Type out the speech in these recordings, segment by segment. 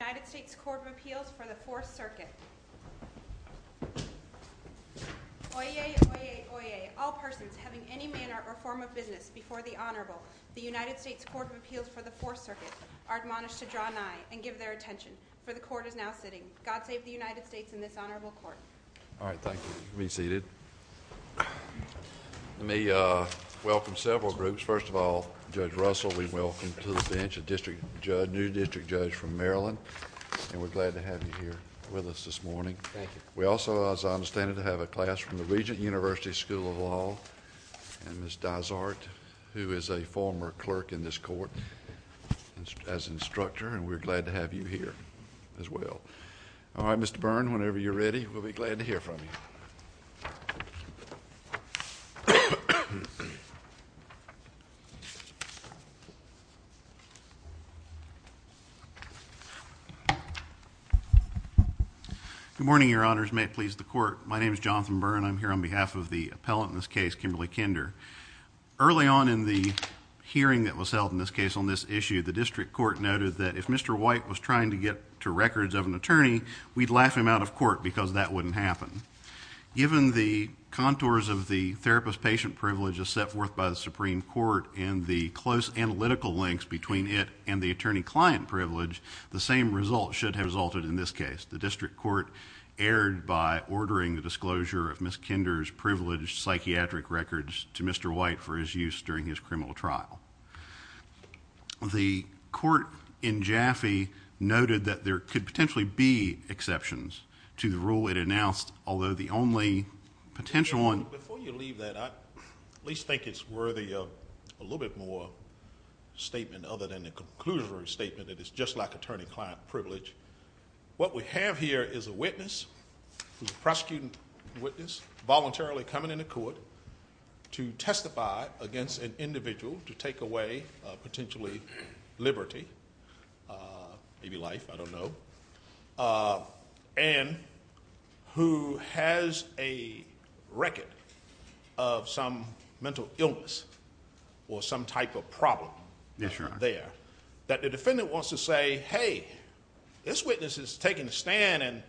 United States Court of Appeals for the 4th Circuit Oyez! Oyez! Oyez! All persons having any manner or form of business before the Honorable, the United States Court of Appeals for the 4th Circuit, are admonished to draw nigh and give their attention, for the Court is now sitting. God save the United States and this Honorable Court. All right, thank you. You can be seated. Let me welcome several groups. First of all, Judge Russell, we welcome to the bench a new district judge from Maryland. And we're glad to have you here with us this morning. Thank you. We also, as I understand it, have a class from the Regent University School of Law and Ms. Dysart, who is a former clerk in this court, as an instructor, and we're glad to have you here as well. All right, Mr. Byrne, whenever you're ready, we'll be glad to hear from you. Good morning, Your Honors. May it please the Court. My name is Jonathan Byrne. I'm here on behalf of the appellant in this case, Kimberly Kinder. Early on in the hearing that was held in this case on this issue, the district court noted that if Mr. White was trying to get to records of an attorney, we'd laugh him out of court because that wouldn't happen. Given the contours of the therapist-patient privilege as set forth by the Supreme Court and the close analytical links between it and the attorney-client privilege, the same result should have resulted in this case. The district court erred by ordering the disclosure of Ms. Kinder's privileged psychiatric records to Mr. White for his use during his criminal trial. The court in Jaffe noted that there could potentially be exceptions to the rule it announced, although the only potential one... Before you leave that, I at least think it's worthy of a little bit more statement other than the conclusion statement that it's just like attorney-client privilege. What we have here is a witness, a prosecuting witness, voluntarily coming into court to testify against an individual to take away potentially liberty, maybe life, I don't know, and who has a record of some mental illness or some type of problem there that the defendant wants to say, hey, this witness is taking a stand and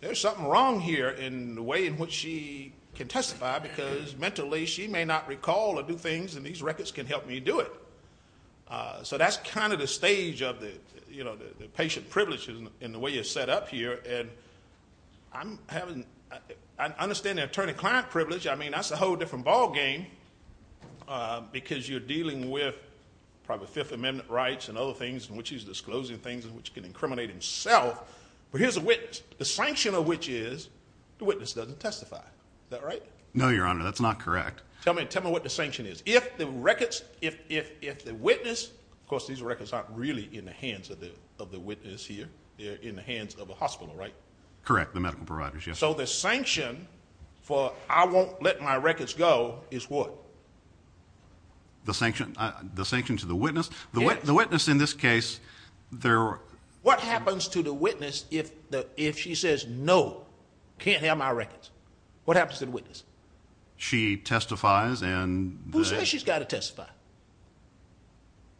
there's something wrong here in the way in which she can testify because mentally she may not recall or do things and these records can help me do it. So that's kind of the stage of the patient privilege in the way it's set up here, and I understand the attorney-client privilege. I mean that's a whole different ball game because you're dealing with probably Fifth Amendment rights and other things in which he's disclosing things in which he can incriminate himself. But here's a witness, the sanction of which is the witness doesn't testify. Is that right? No, Your Honor, that's not correct. Tell me what the sanction is. If the witness, of course these records aren't really in the hands of the witness here, they're in the hands of a hospital, right? Correct, the medical providers, yes. So the sanction for I won't let my records go is what? The sanction to the witness? Yes. The witness in this case, they're... What happens to the witness if she says no, can't have my records? What happens to the witness? She testifies and... She says she's got to testify.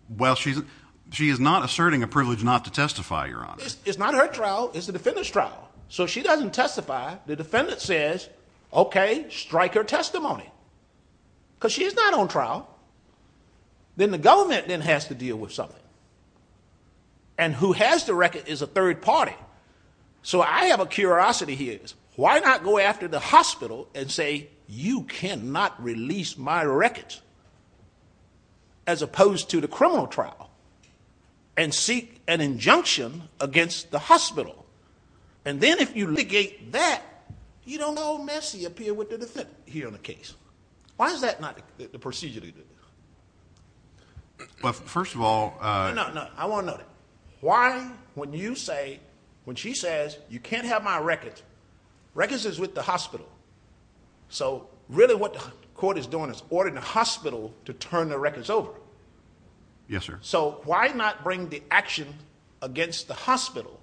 Well, she is not asserting a privilege not to testify, Your Honor. It's not her trial. It's the defendant's trial. So she doesn't testify. The defendant says, okay, strike her testimony because she's not on trial. Then the government then has to deal with something, and who has the record is a third party. So I have a curiosity here. Why not go after the hospital and say, you cannot release my records, as opposed to the criminal trial, and seek an injunction against the hospital? And then if you litigate that, you don't go all messy up here with the defendant here in the case. Why is that not the procedure to do? Well, first of all... No, no, no, I want to know that. Why, when you say, when she says, you can't have my records, records is with the hospital. So really what the court is doing is ordering the hospital to turn their records over. Yes, sir. So why not bring the action against the hospital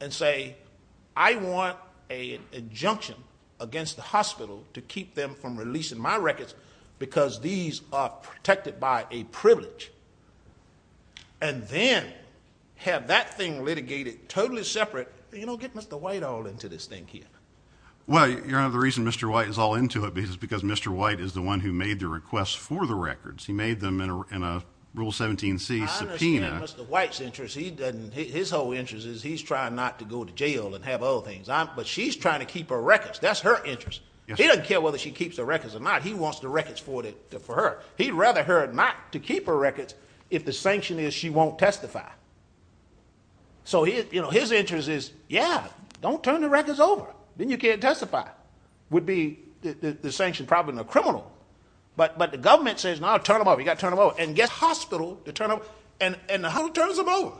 and say, I want an injunction against the hospital to keep them from releasing my records because these are protected by a privilege, and then have that thing litigated totally separate. You don't get Mr. White all into this thing here. Well, Your Honor, the reason Mr. White is all into it is because Mr. White is the one who made the requests for the records. He made them in a Rule 17c subpoena. I understand Mr. White's interest. His whole interest is he's trying not to go to jail and have other things. But she's trying to keep her records. That's her interest. He doesn't care whether she keeps her records or not. He wants the records for her. He'd rather her not to keep her records if the sanction is she won't testify. So his interest is, yeah, don't turn the records over. Then you can't testify. It would be the sanction probably in the criminal. But the government says, no, turn them over. You've got to turn them over. And get the hospital to turn them over. And the hospital turns them over.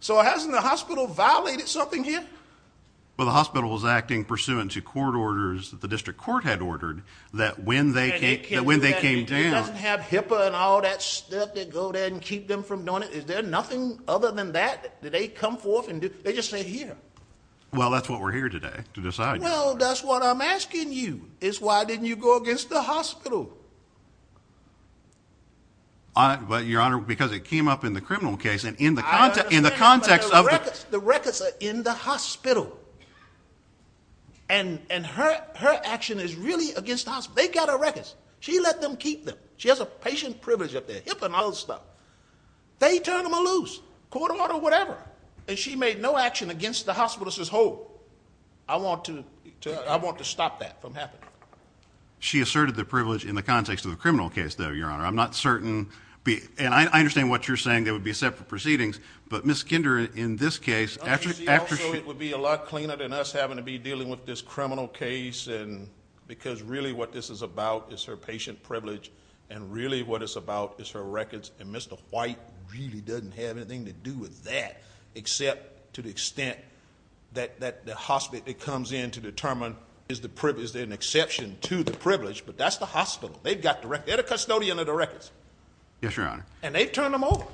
So hasn't the hospital violated something here? Well, the hospital was acting pursuant to court orders that the district court had ordered that when they came down. And it doesn't have HIPAA and all that stuff that go there and keep them from doing it. Is there nothing other than that that they come forth and do? They just sit here. Well, that's what we're here today to decide. Well, that's what I'm asking you is why didn't you go against the hospital? Your Honor, because it came up in the criminal case. And in the context of the... I understand, but the records are in the hospital. And her action is really against the hospital. They've got her records. She let them keep them. She has a patient privilege up there, HIPAA and all that stuff. They turn them loose, court order or whatever. And she made no action against the hospital. She says, hold, I want to stop that from happening. She asserted the privilege in the context of the criminal case, though, Your Honor. I'm not certain. And I understand what you're saying. There would be separate proceedings. But Ms. Kinder, in this case... It would be a lot cleaner than us having to be dealing with this criminal case. Because really what this is about is her patient privilege. And really what it's about is her records. And Mr. White really doesn't have anything to do with that, except to the extent that the hospital comes in to determine is there an exception to the privilege. But that's the hospital. They've got the records. They're the custodian of the records. Yes, Your Honor. And they've turned them over.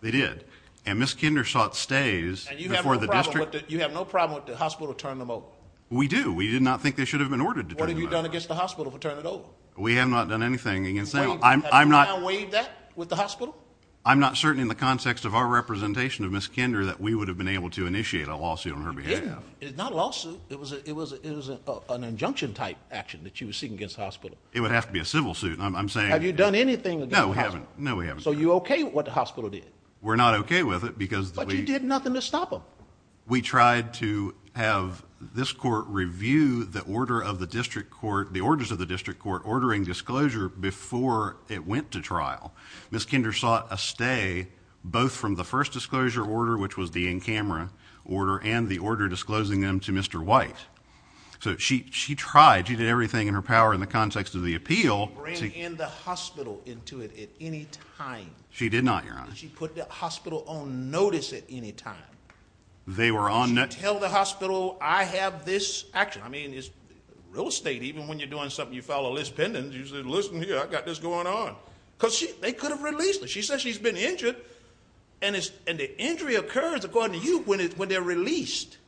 They did. And Ms. Kinder sought stays before the district... And you have no problem with the hospital turning them over? We do. We did not think they should have been ordered to turn them over. What have you done against the hospital to turn it over? We have not done anything against... Have you now waived that with the hospital? I'm not certain in the context of our representation of Ms. Kinder that we would have been able to initiate a lawsuit on her behavior. You didn't. It's not a lawsuit. It was an injunction-type action that you were seeking against the hospital. It would have to be a civil suit. I'm saying... Have you done anything against the hospital? No, we haven't. So you're okay with what the hospital did? We're not okay with it because... But you did nothing to stop them. We tried to have this court review the order of the district court... the orders of the district court ordering disclosure before it went to trial. Ms. Kinder sought a stay both from the first disclosure order, which was the in-camera order, and the order disclosing them to Mr. White. So she tried. She did everything in her power in the context of the appeal... She ran in the hospital into it at any time. She did not, Your Honor. She put the hospital on notice at any time. They were on... She didn't tell the hospital, I have this action. I mean, it's real estate. Even when you're doing something, you file a list pendant. You say, listen here, I've got this going on. Because they could have released her. She said she's been injured. And the injury occurs, according to you, when they're released.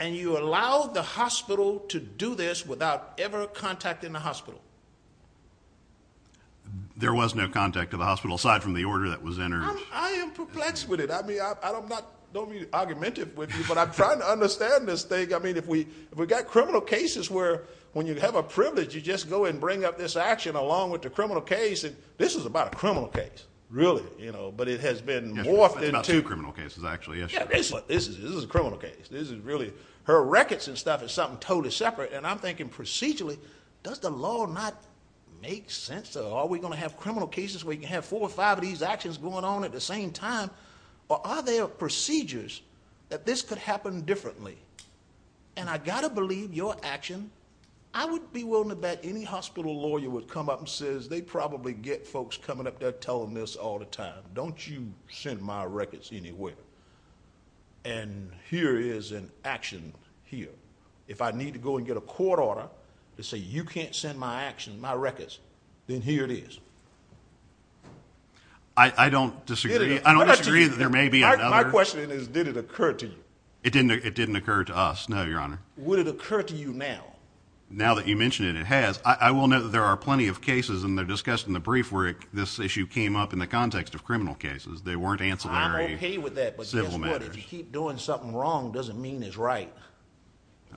And you allowed the hospital to do this without ever contacting the hospital. There was no contact to the hospital, aside from the order that was entered. I am perplexed with it. I mean, I don't mean to argument it with you, but I'm trying to understand this thing. I mean, if we've got criminal cases where when you have a privilege, you just go and bring up this action along with the criminal case. This is about a criminal case, really. But it has been morphed into... It's about two criminal cases, actually, yes, Your Honor. This is a criminal case. This is really... Her records and stuff is something totally separate. And I'm thinking procedurally, does the law not make sense? Are we going to have criminal cases where you can have four or five of these actions going on at the same time? Or are there procedures that this could happen differently? And I've got to believe your action... I wouldn't be willing to bet any hospital lawyer would come up and says, they probably get folks coming up there telling this all the time. Don't you send my records anywhere. And here is an action here. If I need to go and get a court order to say you can't send my actions, my records, then here it is. I don't disagree. I don't disagree that there may be another... My question is, did it occur to you? It didn't occur to us, no, Your Honor. Would it occur to you now? Now that you mention it, it has. I will note that there are plenty of cases, and they're discussed in the brief, where this issue came up in the context of criminal cases. They weren't ancillary civil matters. I'm okay with that, but guess what? If you keep doing something wrong, it doesn't mean it's right.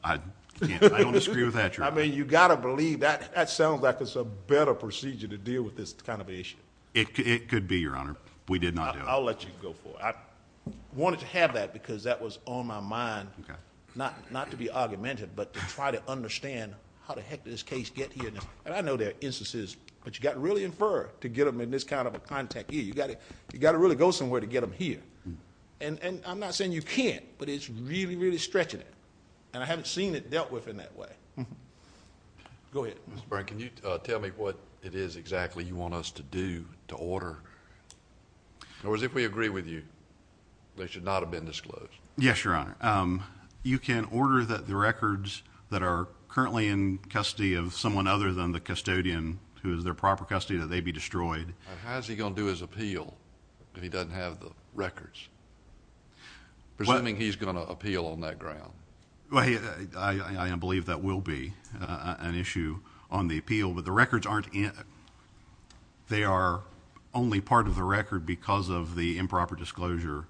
I don't disagree with that, Your Honor. I mean, you've got to believe that. That sounds like it's a better procedure to deal with this kind of issue. It could be, Your Honor. We did not do it. I'll let you go for it. I wanted to have that, because that was on my mind, not to be argumentative, but to try to understand how the heck did this case get here? And I know there are instances, but you've got to really infer to get them in this kind of a context. You've got to really go somewhere to get them here. And I'm not saying you can't, but it's really, really stretching it, and I haven't seen it dealt with in that way. Mr. Byrne, can you tell me what it is exactly you want us to do to order? In other words, if we agree with you, they should not have been disclosed. Yes, Your Honor. You can order that the records that are currently in custody of someone other than the custodian, who is their proper custody, that they be destroyed. How is he going to do his appeal if he doesn't have the records, presuming he's going to appeal on that ground? I believe that will be an issue on the appeal, but the records aren't... they are only part of the record because of the improper disclosure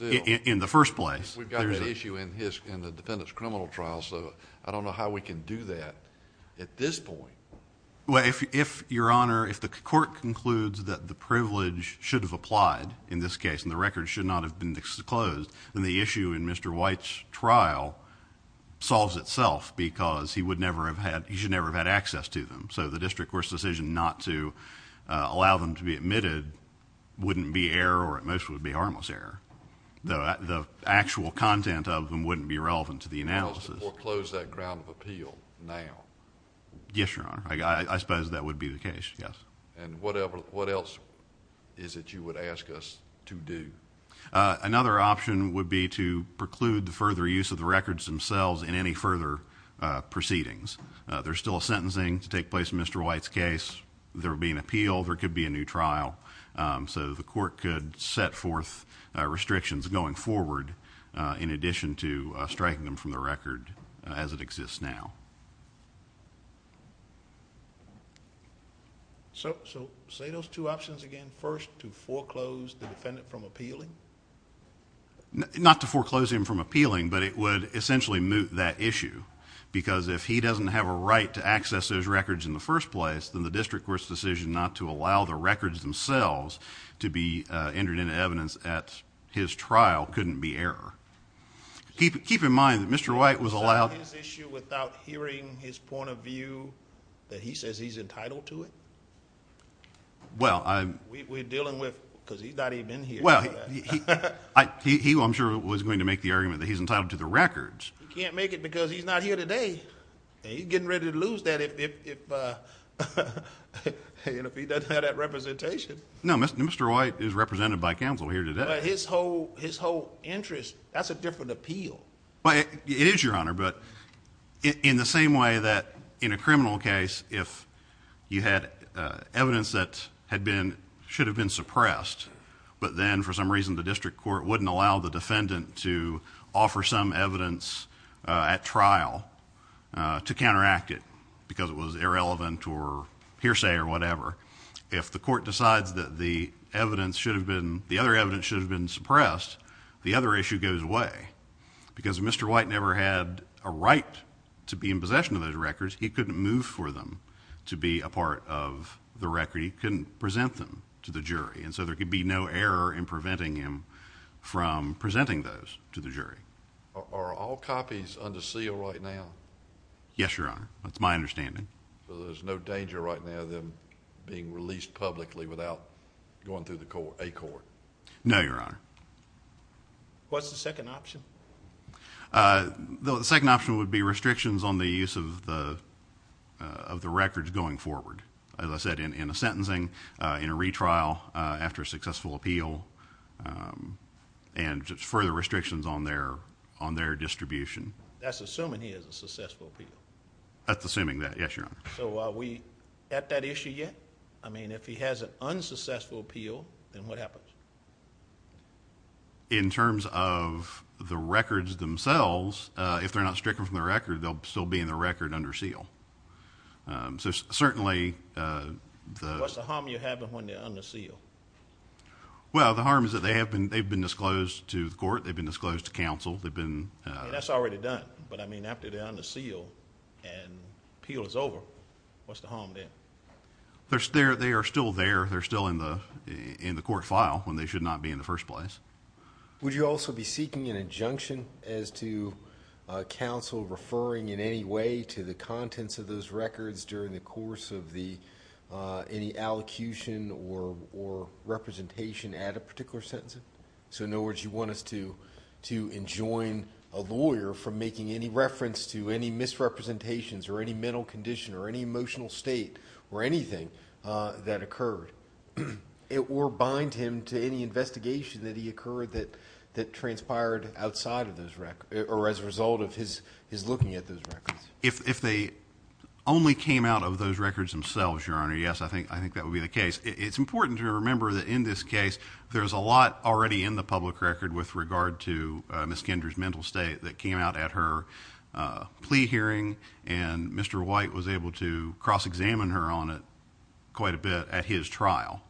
in the first place. We've got this issue in the defendant's criminal trial, so I don't know how we can do that at this point. If, Your Honor, if the court concludes that the privilege should have applied in this case, and the records should not have been disclosed, then the issue in Mr. White's trial solves itself, because he should never have had access to them. So the district court's decision not to allow them to be admitted wouldn't be error, or at most would be harmless error, though the actual content of them wouldn't be relevant to the analysis. We'll close that ground of appeal now. Yes, Your Honor. I suppose that would be the case. Yes. And what else is it you would ask us to do? Another option would be to preclude the further use of the records themselves in any further proceedings. There's still a sentencing to take place in Mr. White's case. There will be an appeal. There could be a new trial. So the court could set forth restrictions going forward in addition to So say those two options again. First, to foreclose the defendant from appealing? Not to foreclose him from appealing, but it would essentially moot that issue, because if he doesn't have a right to access those records in the first place, then the district court's decision not to allow the records themselves to be entered into evidence at his trial couldn't be error. Keep in mind that Mr. White was allowed... that he says he's entitled to it? Well, I... We're dealing with... because he's not even here. Well, I'm sure he was going to make the argument that he's entitled to the records. He can't make it because he's not here today, and he's getting ready to lose that if he doesn't have that representation. No, Mr. White is represented by counsel here today. But his whole interest, that's a different appeal. Well, it is, Your Honor, but in the same way that in a criminal case, if you had evidence that had been... should have been suppressed, but then for some reason the district court wouldn't allow the defendant to offer some evidence at trial to counteract it because it was irrelevant or hearsay or whatever, if the court decides that the evidence should have been... the other evidence should have been suppressed, the other issue goes away. Because if Mr. White never had a right to be in possession of those records, he couldn't move for them to be a part of the record. He couldn't present them to the jury, and so there could be no error in preventing him from presenting those to the jury. Are all copies under seal right now? Yes, Your Honor. That's my understanding. So there's no danger right now of them being released publicly without going through a court? No, Your Honor. What's the second option? The second option would be restrictions on the use of the records going forward. As I said, in a sentencing, in a retrial, after a successful appeal, and just further restrictions on their distribution. That's assuming he has a successful appeal? That's assuming that, yes, Your Honor. So are we at that issue yet? I mean, if he has an unsuccessful appeal, then what happens? In terms of the records themselves, if they're not stricken from the record, they'll still be in the record under seal. So certainly the— What's the harm you're having when they're under seal? Well, the harm is that they've been disclosed to the court, they've been disclosed to counsel, they've been— That's already done. But, I mean, after they're under seal and appeal is over, what's the harm then? They are still there. They're still in the court file when they should not be in the first place. Would you also be seeking an injunction as to counsel referring in any way to the contents of those records during the course of any allocution or representation at a particular sentencing? So in other words, you want us to enjoin a lawyer from making any reference to any misrepresentations or any mental condition or any emotional state or anything that occurred or bind him to any investigation that he occurred that transpired outside of those records or as a result of his looking at those records. If they only came out of those records themselves, Your Honor, yes, I think that would be the case. It's important to remember that in this case, there's a lot already in the public record with regard to Ms. Kendra's mental state that came out at her plea hearing and Mr. White was able to cross-examine her on it quite a bit at his trial.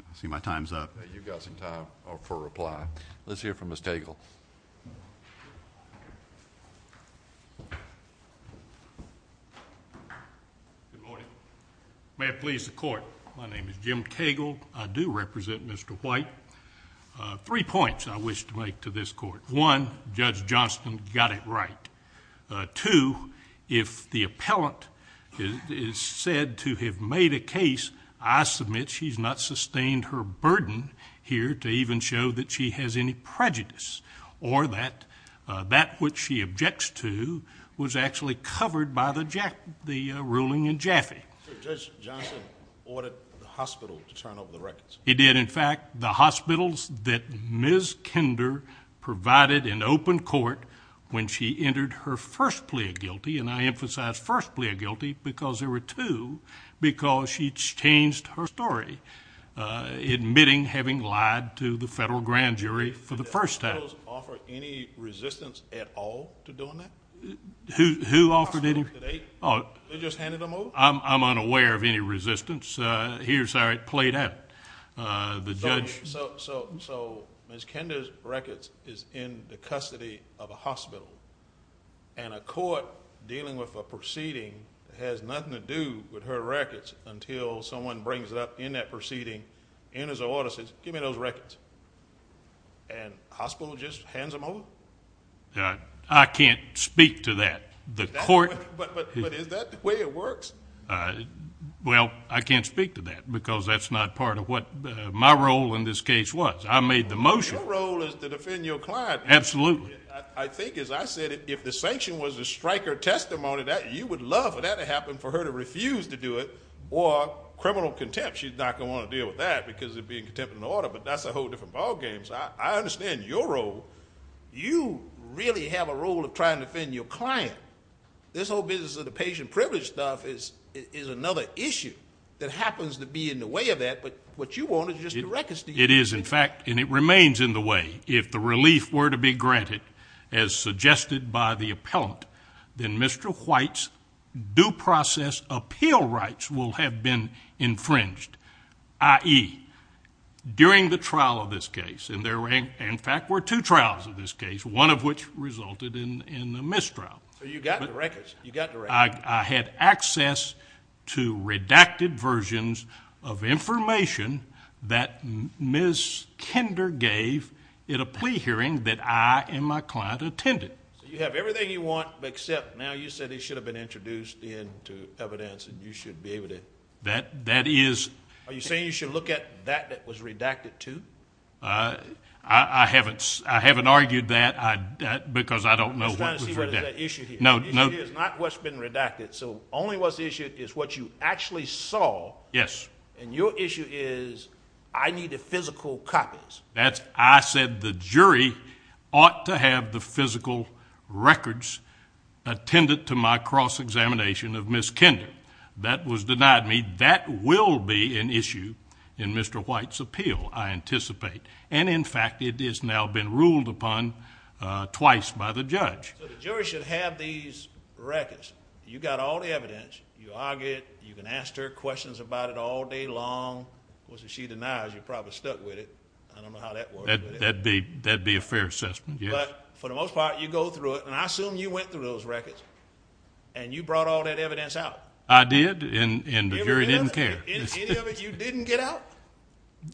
I see my time's up. You've got some time for reply. Let's hear from Ms. Cagle. Good morning. May it please the Court, my name is Jim Cagle. I do represent Mr. White. Three points I wish to make to this Court. One, Judge Johnston got it right. Two, if the appellant is said to have made a case, I submit she's not sustained her burden here to even show that she has any prejudice or that that which she objects to was actually covered by the ruling in Jaffe. Judge Johnston ordered the hospital to turn over the records. He did. In fact, the hospitals that Ms. Kendra provided in open court when she entered her first plea of guilty, and I emphasize first plea of guilty because there were two, because she changed her story, admitting having lied to the federal grand jury for the first time. Did those offer any resistance at all to doing that? Who offered any? The hospital today? They just handed them over? I'm unaware of any resistance. Here's how it played out. So Ms. Kendra's records is in the custody of a hospital, and a court dealing with a proceeding that has nothing to do with her records until someone brings it up in that proceeding, enters the order and says, give me those records, and the hospital just hands them over? I can't speak to that. But is that the way it works? Well, I can't speak to that because that's not part of what my role in this case was. I made the motion. Your role is to defend your client. Absolutely. I think, as I said, if the sanction was a striker testimony, you would love for that to happen for her to refuse to do it or criminal contempt. She's not going to want to deal with that because of it being contempt of an order, but that's a whole different ballgame. So I understand your role. You really have a role of trying to defend your client. This whole business of the patient privilege stuff is another issue that happens to be in the way of that. But what you want is just a record statement. It is, in fact, and it remains in the way. If the relief were to be granted, as suggested by the appellant, then Mr. White's due process appeal rights will have been infringed, i.e., during the trial of this case. In fact, there were two trials of this case, one of which resulted in a mistrial. So you got the records. You got the records. I had access to redacted versions of information that Ms. Kinder gave at a plea hearing that I and my client attended. So you have everything you want, except now you said he should have been introduced into evidence and you should be able to. That is. Are you saying you should look at that that was redacted, too? I haven't argued that because I don't know what was redacted. I'm just trying to see what is at issue here. No, no. The issue here is not what's been redacted. So only what's issued is what you actually saw. Yes. And your issue is I need the physical copies. I said the jury ought to have the physical records attended to my cross-examination of Ms. Kinder. That was denied me. That will be an issue in Mr. White's appeal, I anticipate. And, in fact, it has now been ruled upon twice by the judge. So the jury should have these records. You got all the evidence. You argued. You can ask her questions about it all day long. Of course, if she denies, you're probably stuck with it. I don't know how that works. That would be a fair assessment, yes. But for the most part, you go through it, and I assume you went through those records and you brought all that evidence out. I did, and the jury didn't care. Any of it you didn't get out?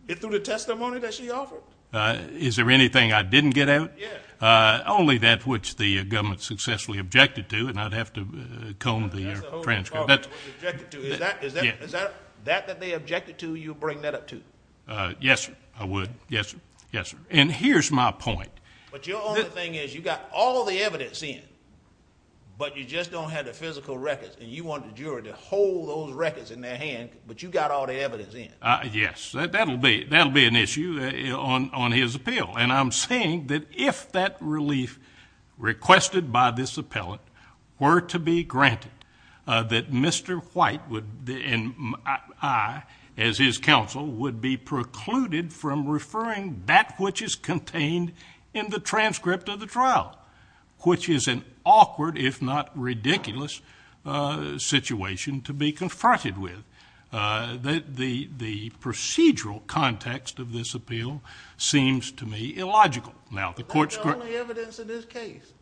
It's through the testimony that she offered. Is there anything I didn't get out? Yes. Only that which the government successfully objected to, and I'd have to comb the transcript. That's the whole department was objected to. Is that that they objected to you bring that up to? Yes, sir. I would. Yes, sir. And here's my point. But your only thing is you got all the evidence in, but you just don't have the physical records, and you wanted the jury to hold those records in their hand, but you got all the evidence in. Yes. That'll be an issue on his appeal. And I'm saying that if that relief requested by this appellant were to be granted, that Mr. White and I, as his counsel, would be precluded from referring that which is contained in the transcript of the trial, which is an awkward if not ridiculous situation to be confronted with. The procedural context of this appeal seems to me illogical. That's the only evidence in this case.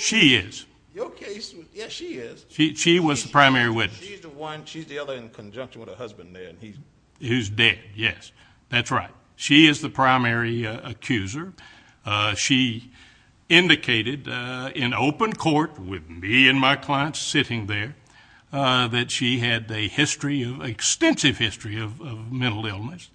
She is. Your case, yes, she is. She was the primary witness. She's the other in conjunction with her husband there. Who's dead, yes. That's right. She is the primary accuser. She indicated in open court with me and my clients sitting there that she had an extensive history of mental illness,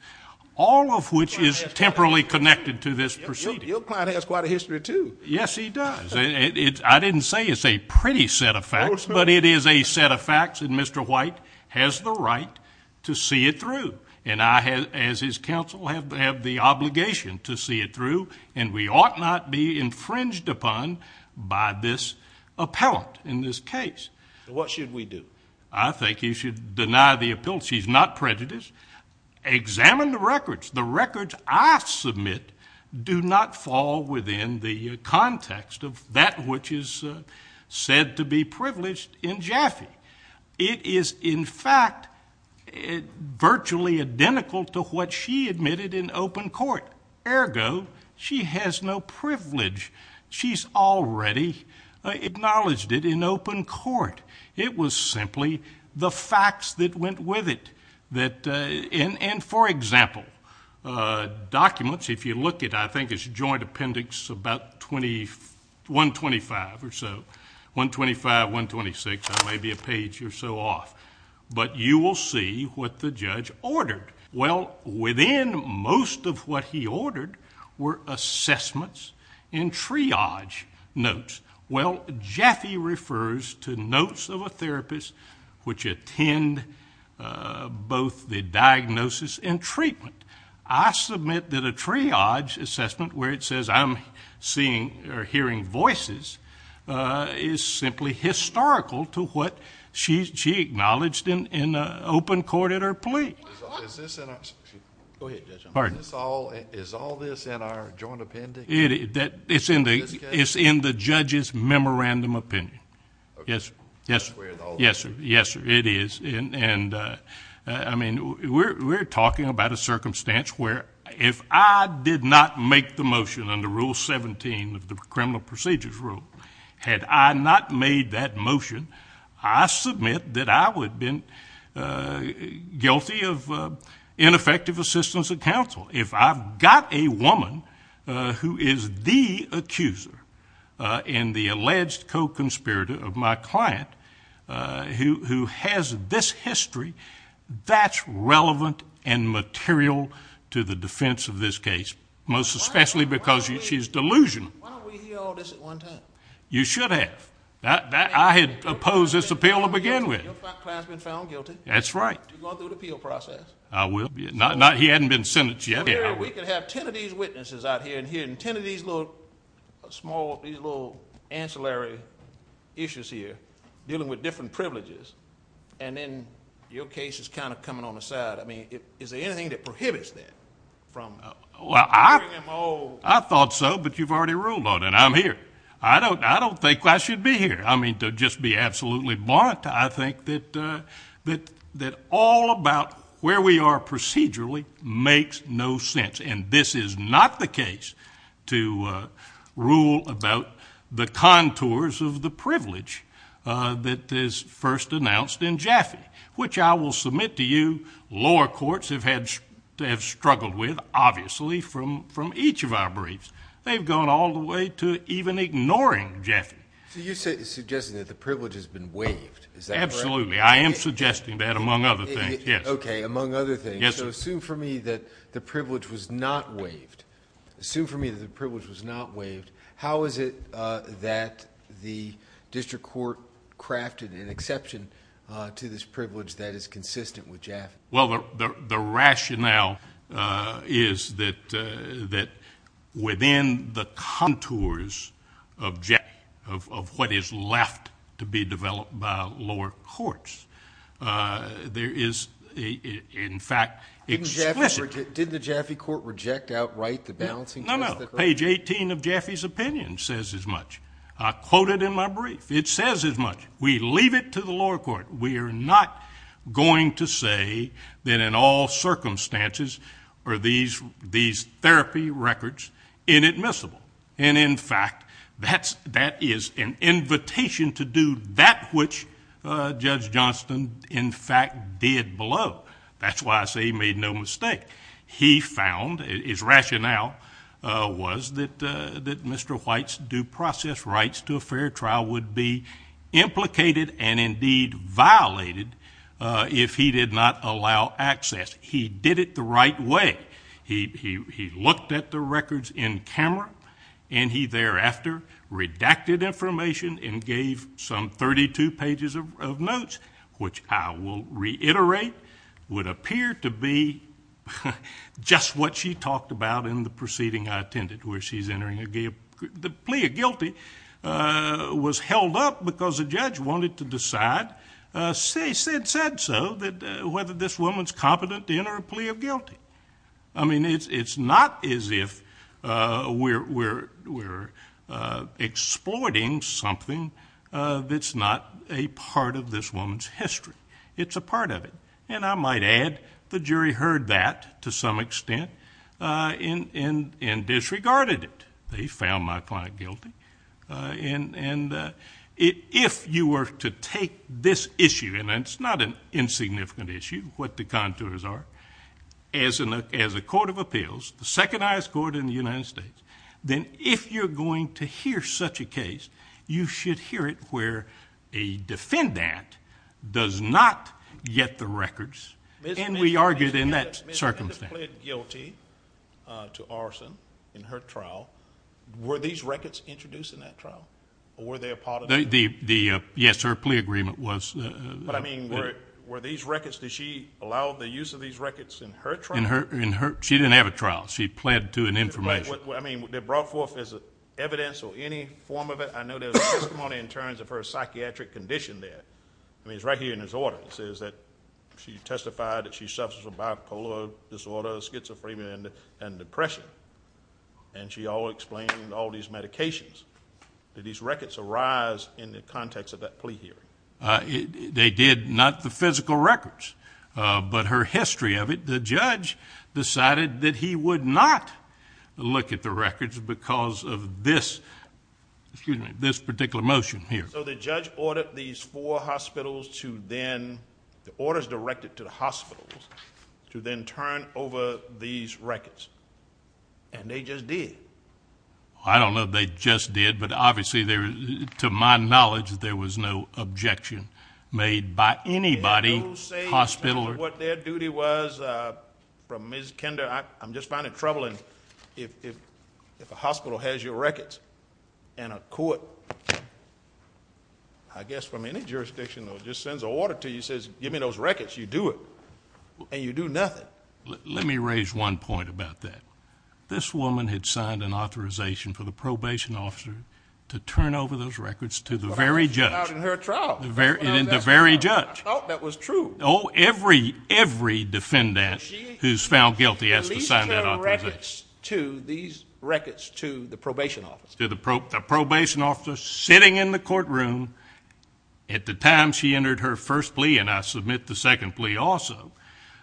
all of which is temporally connected to this proceeding. Your client has quite a history too. Yes, he does. I didn't say it's a pretty set of facts, but it is a set of facts, and Mr. White has the right to see it through. And I, as his counsel, have the obligation to see it through, and we ought not be infringed upon by this appellant in this case. What should we do? I think you should deny the appeal. She's not prejudiced. Examine the records. The records I submit do not fall within the context of that which is said to be privileged in Jaffe. It is, in fact, virtually identical to what she admitted in open court. Ergo, she has no privilege. She's already acknowledged it in open court. It was simply the facts that went with it. And, for example, documents, if you look at, I think it's joint appendix, about 125 or so, 125, 126, maybe a page or so off, but you will see what the judge ordered. Well, within most of what he ordered were assessments and triage notes. Well, Jaffe refers to notes of a therapist which attend both the diagnosis and treatment. I submit that a triage assessment where it says I'm seeing or hearing voices is simply historical to what she acknowledged in open court at her plea. Go ahead, Judge. Pardon? Is all this in our joint appendix? It's in the judge's memorandum opinion. Yes, sir. Yes, sir. It is. And, I mean, we're talking about a circumstance where if I did not make the motion under Rule 17 of the Criminal Procedures Rule, had I not made that motion, I submit that I would have been guilty of ineffective assistance of counsel. If I've got a woman who is the accuser in the alleged co-conspirator of my client who has this history, that's relevant and material to the defense of this case, most especially because she's delusional. Why don't we hear all this at one time? You should have. I had opposed this appeal to begin with. Your client's been found guilty. That's right. You're going through the appeal process. I will be. He hadn't been sentenced yet. We could have 10 of these witnesses out here and hearing 10 of these little small, these little ancillary issues here dealing with different privileges, and then your case is kind of coming on the side. I mean, is there anything that prohibits that from hearing them all? Well, I thought so, but you've already ruled on it, and I'm here. I don't think I should be here. I mean, to just be absolutely blunt, I think that all about where we are procedurally makes no sense, and this is not the case to rule about the contours of the privilege that is first announced in Jaffe, which I will submit to you lower courts have struggled with, obviously, from each of our briefs. They've gone all the way to even ignoring Jaffe. You're suggesting that the privilege has been waived. Is that correct? Absolutely. I am suggesting that, among other things. Yes. Okay, among other things. Yes, sir. Assume for me that the privilege was not waived. Assume for me that the privilege was not waived. How is it that the district court crafted an exception to this privilege that is consistent with Jaffe? Well, the rationale is that within the contours of Jaffe, of what is left to be developed by lower courts, there is, in fact, explicit. Didn't the Jaffe court reject outright the balancing test? No, no. Page 18 of Jaffe's opinion says as much. I quote it in my brief. It says as much. We leave it to the lower court. We are not going to say that in all circumstances are these therapy records inadmissible. And, in fact, that is an invitation to do that which Judge Johnston, in fact, did below. That's why I say he made no mistake. He found his rationale was that Mr. White's due process rights to a fair trial would be implicated and, indeed, violated if he did not allow access. He did it the right way. He looked at the records in camera, and he thereafter redacted information and gave some 32 pages of notes, which I will reiterate, would appear to be just what she talked about in the proceeding I attended, where the plea of guilty was held up because the judge wanted to decide, said so, whether this woman is competent to enter a plea of guilty. I mean, it's not as if we're exploiting something that's not a part of this woman's history. It's a part of it. And I might add the jury heard that to some extent and disregarded it. They found my client guilty. And if you were to take this issue, and it's not an insignificant issue, what the contours are, as a court of appeals, the second highest court in the United States, then if you're going to hear such a case, you should hear it where a defendant does not get the records. And we argued in that circumstance. Ms. Menendez pled guilty to arson in her trial. Were these records introduced in that trial, or were they a part of it? Yes, her plea agreement was. But, I mean, were these records, did she allow the use of these records in her trial? She didn't have a trial. She pled to an information. I mean, were they brought forth as evidence or any form of it? I know there's testimony in terms of her psychiatric condition there. I mean, it's right here in this order. It says that she testified that she suffers from bipolar disorder, schizophrenia, and depression. And she all explained all these medications. Did these records arise in the context of that plea hearing? They did, not the physical records, but her history of it. The judge decided that he would not look at the records because of this particular motion here. So the judge ordered these four hospitals to then, the orders directed to the hospitals, to then turn over these records. And they just did. I don't know if they just did, but obviously, to my knowledge, there was no objection made by anybody. I don't know what their duty was from Ms. Kender. I'm just finding it troubling. If a hospital has your records and a court, I guess from any jurisdiction, just sends an order to you and says, give me those records, you do it, and you do nothing. Let me raise one point about that. This woman had signed an authorization for the probation officer to turn over those records to the very judge. In her trial. The very judge. I thought that was true. Oh, every defendant who's found guilty has to sign that authorization. At least her records to the probation officer. The probation officer sitting in the courtroom at the time she entered her first plea, and I submit the second plea also,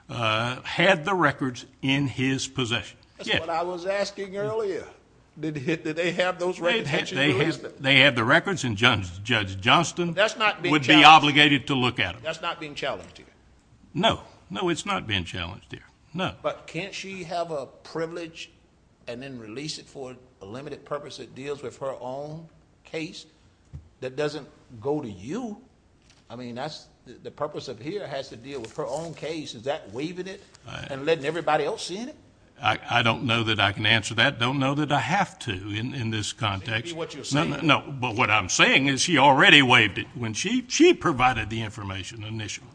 had the records in his possession. That's what I was asking earlier. Did they have those records? They had the records, and Judge Johnston would be obligated to look at them. That's not being challenged here. No. No, it's not being challenged here. No. But can't she have a privilege and then release it for a limited purpose that deals with her own case that doesn't go to you? I mean, the purpose of here has to deal with her own case. Is that waiving it and letting everybody else see it? I don't know that I can answer that. I don't know that I have to in this context. Maybe what you're saying. No, but what I'm saying is she already waived it when she provided the information initially.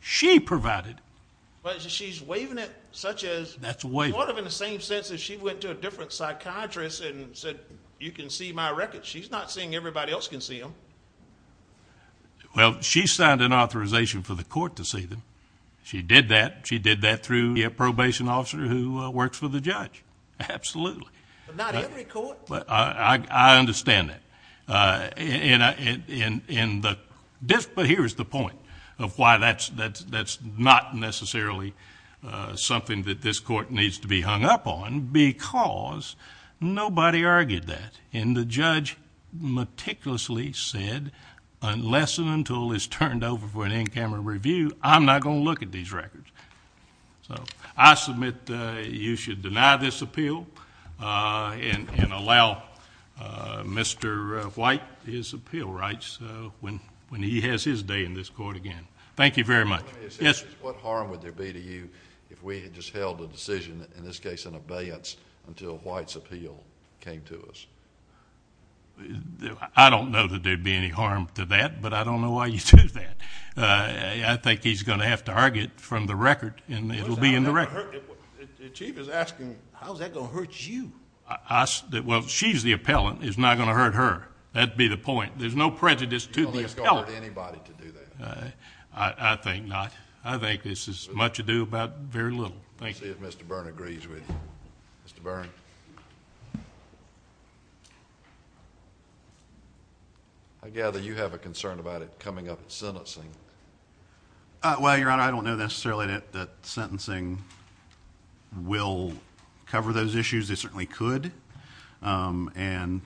She provided. But she's waiving it such as sort of in the same sense as she went to a different psychiatrist and said, you can see my records. She's not saying everybody else can see them. Well, she signed an authorization for the court to see them. She did that. She did that through a probation officer who works for the judge. Absolutely. But not every court. I understand that. But here's the point of why that's not necessarily something that this court needs to be hung up on, because nobody argued that. And the judge meticulously said, unless and until it's turned over for an in-camera review, I'm not going to look at these records. So I submit you should deny this appeal and allow Mr. White his appeal rights when he has his day in this court again. Thank you very much. What harm would there be to you if we had just held a decision, in this case an abeyance, until White's appeal came to us? I don't know that there would be any harm to that, but I don't know why you'd do that. I think he's going to have to argue it from the record, and it'll be in the record. The Chief is asking, how's that going to hurt you? Well, she's the appellant. It's not going to hurt her. That'd be the point. There's no prejudice to the appellant. You don't think it's going to hurt anybody to do that? I think not. I think this is much ado about very little. Thank you. Let's see if Mr. Byrne agrees with you. Mr. Byrne. Mr. Byrne. I gather you have a concern about it coming up at sentencing. Well, Your Honor, I don't know necessarily that sentencing will cover those issues. It certainly could, and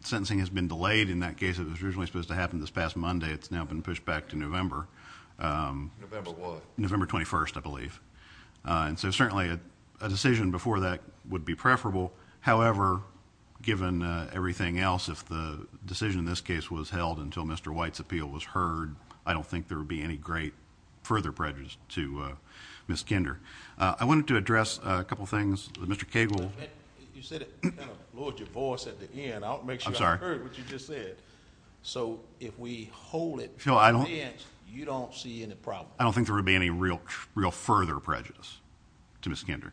sentencing has been delayed. In that case, it was originally supposed to happen this past Monday. It's now been pushed back to November. November what? November 21st, I believe. Certainly, a decision before that would be preferable. However, given everything else, if the decision in this case was held until Mr. White's appeal was heard, I don't think there would be any great further prejudice to Ms. Kinder. I wanted to address a couple of things. Mr. Cagle. You said it. You kind of lowered your voice at the end. I don't make sure I heard what you just said. I'm sorry. If we hold it until the end, you don't see any problem? Well, I don't think there would be any real further prejudice to Ms. Kinder.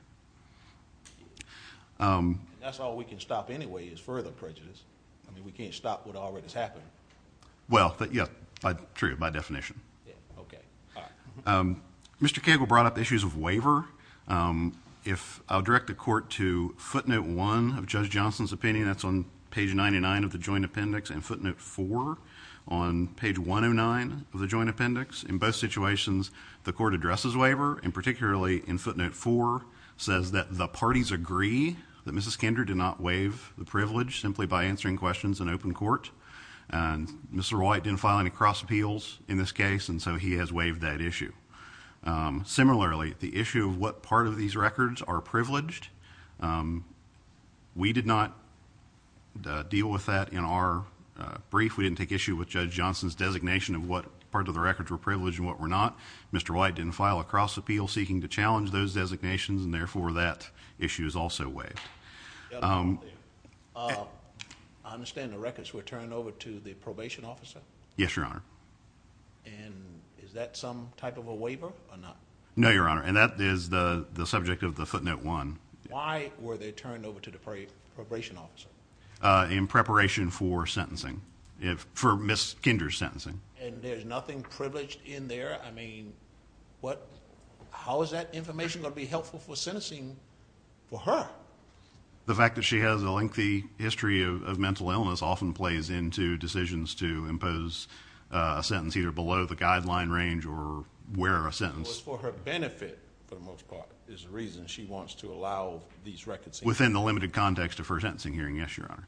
That's all we can stop anyway is further prejudice. I mean, we can't stop what already has happened. Well, yeah, true, by definition. Okay. All right. Mr. Cagle brought up issues of waiver. I'll direct the court to footnote one of Judge Johnson's opinion. That's on page 99 of the joint appendix and footnote four on page 109 of the joint appendix. In both situations, the court addresses waiver, and particularly in footnote four, says that the parties agree that Ms. Kinder did not waive the privilege simply by answering questions in open court. Mr. White didn't file any cross appeals in this case, and so he has waived that issue. Similarly, the issue of what part of these records are privileged, we did not deal with that in our brief. We didn't take issue with Judge Johnson's designation of what part of the records were privileged and what were not. Mr. White didn't file a cross appeal seeking to challenge those designations, and therefore that issue is also waived. I understand the records were turned over to the probation officer? Yes, Your Honor. And is that some type of a waiver or not? No, Your Honor, and that is the subject of the footnote one. Why were they turned over to the probation officer? In preparation for sentencing, for Ms. Kinder's sentencing. And there's nothing privileged in there? I mean, how is that information going to be helpful for sentencing for her? The fact that she has a lengthy history of mental illness often plays into decisions to impose a sentence either below the guideline range or where a sentence. It was for her benefit, for the most part, is the reason she wants to allow these records. Within the limited context of her sentencing hearing? Yes, Your Honor.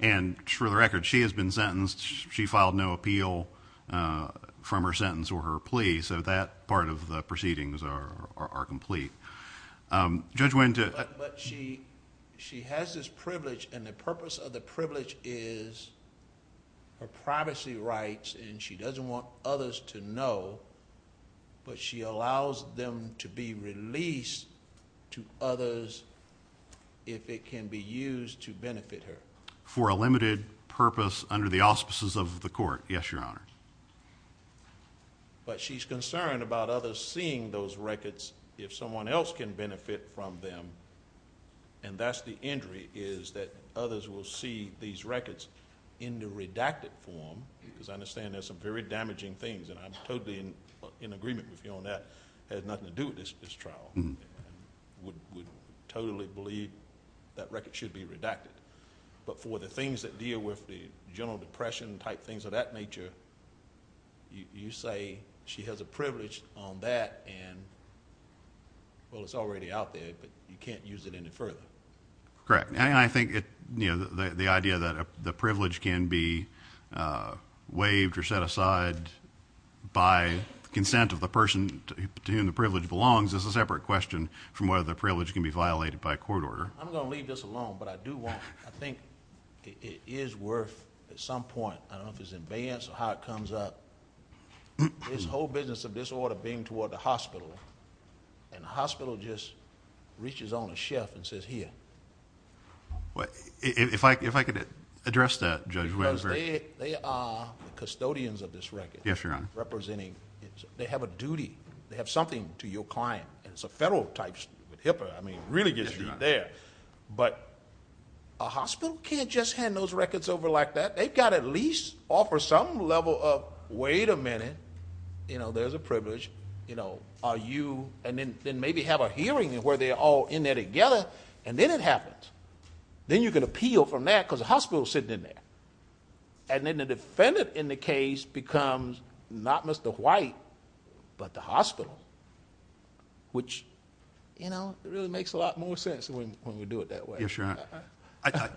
And for the record, she has been sentenced. She filed no appeal from her sentence or her plea, so that part of the proceedings are complete. Judge Wendt... But she has this privilege, and the purpose of the privilege is her privacy rights, and she doesn't want others to know, but she allows them to be released to others if it can be used to benefit her. For a limited purpose under the auspices of the court? Yes, Your Honor. But she's concerned about others seeing those records if someone else can benefit from them, and that's the injury is that others will see these records in the redacted form, because I understand there's some very damaging things, and I'm totally in agreement with you on that. It has nothing to do with this trial. I would totally believe that record should be redacted. But for the things that deal with the general depression type things of that nature, you say she has a privilege on that, and, well, it's already out there, but you can't use it any further. Correct. And I think the idea that the privilege can be waived or set aside by consent of the person to whom the privilege belongs is a separate question from whether the privilege can be violated by a court order. I'm going to leave this alone, but I do want... I think it is worth, at some point, I don't know if it's in advance or how it comes up, this whole business of this order being toward the hospital, and the hospital just reaches on a shelf and says, here. If I could address that, Judge Weber. Because they are the custodians of this record. Yes, Your Honor. Representing... they have a duty. They have something to your client. It's a federal type issue with HIPAA. It really gets you there. But a hospital can't just hand those records over like that. They've got to at least offer some level of, wait a minute, there's a privilege. Are you... and then maybe have a hearing where they're all in there together, and then it happens. Then you can appeal from that because the hospital is sitting in there. Then the defendant in the case becomes not Mr. White, but the hospital, which really makes a lot more sense when we do it that way. Yes, Your Honor.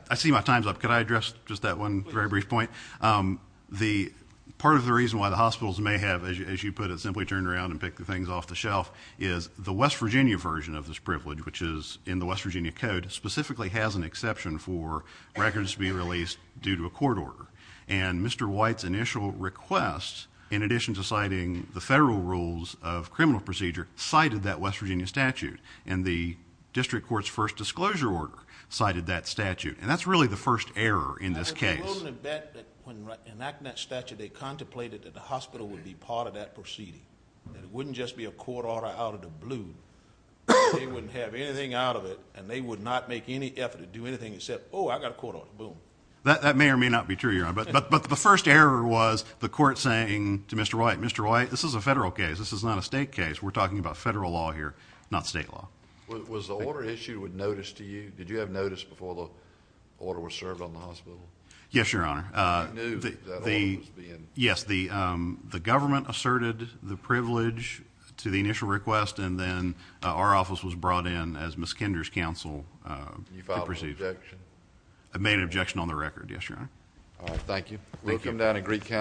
I see my time's up. Could I address just that one very brief point? Part of the reason why the hospitals may have, as you put it, simply turned around and picked the things off the shelf, is the West Virginia version of this privilege, which is in the West Virginia Code, specifically has an exception for records being released due to a court order. And Mr. White's initial request, in addition to citing the federal rules of criminal procedure, cited that West Virginia statute. And the district court's first disclosure order cited that statute. And that's really the first error in this case. I can only bet that when enacting that statute, they contemplated that the hospital would be part of that proceeding. It wouldn't just be a court order out of the blue. They wouldn't have anything out of it, and they would not make any effort to do anything except, oh, I've got a court order, boom. That may or may not be true, Your Honor. But the first error was the court saying to Mr. White, Mr. White, this is a federal case. This is not a state case. We're talking about federal law here, not state law. Was the order issued with notice to you? Did you have notice before the order was served on the hospital? Yes, Your Honor. You knew that order was being issued. Yes, the government asserted the privilege to the initial request, and then our office was brought in as Ms. Kinder's counsel to proceed. You filed an objection? I made an objection on the record, yes, Your Honor. All right, thank you. Thank you.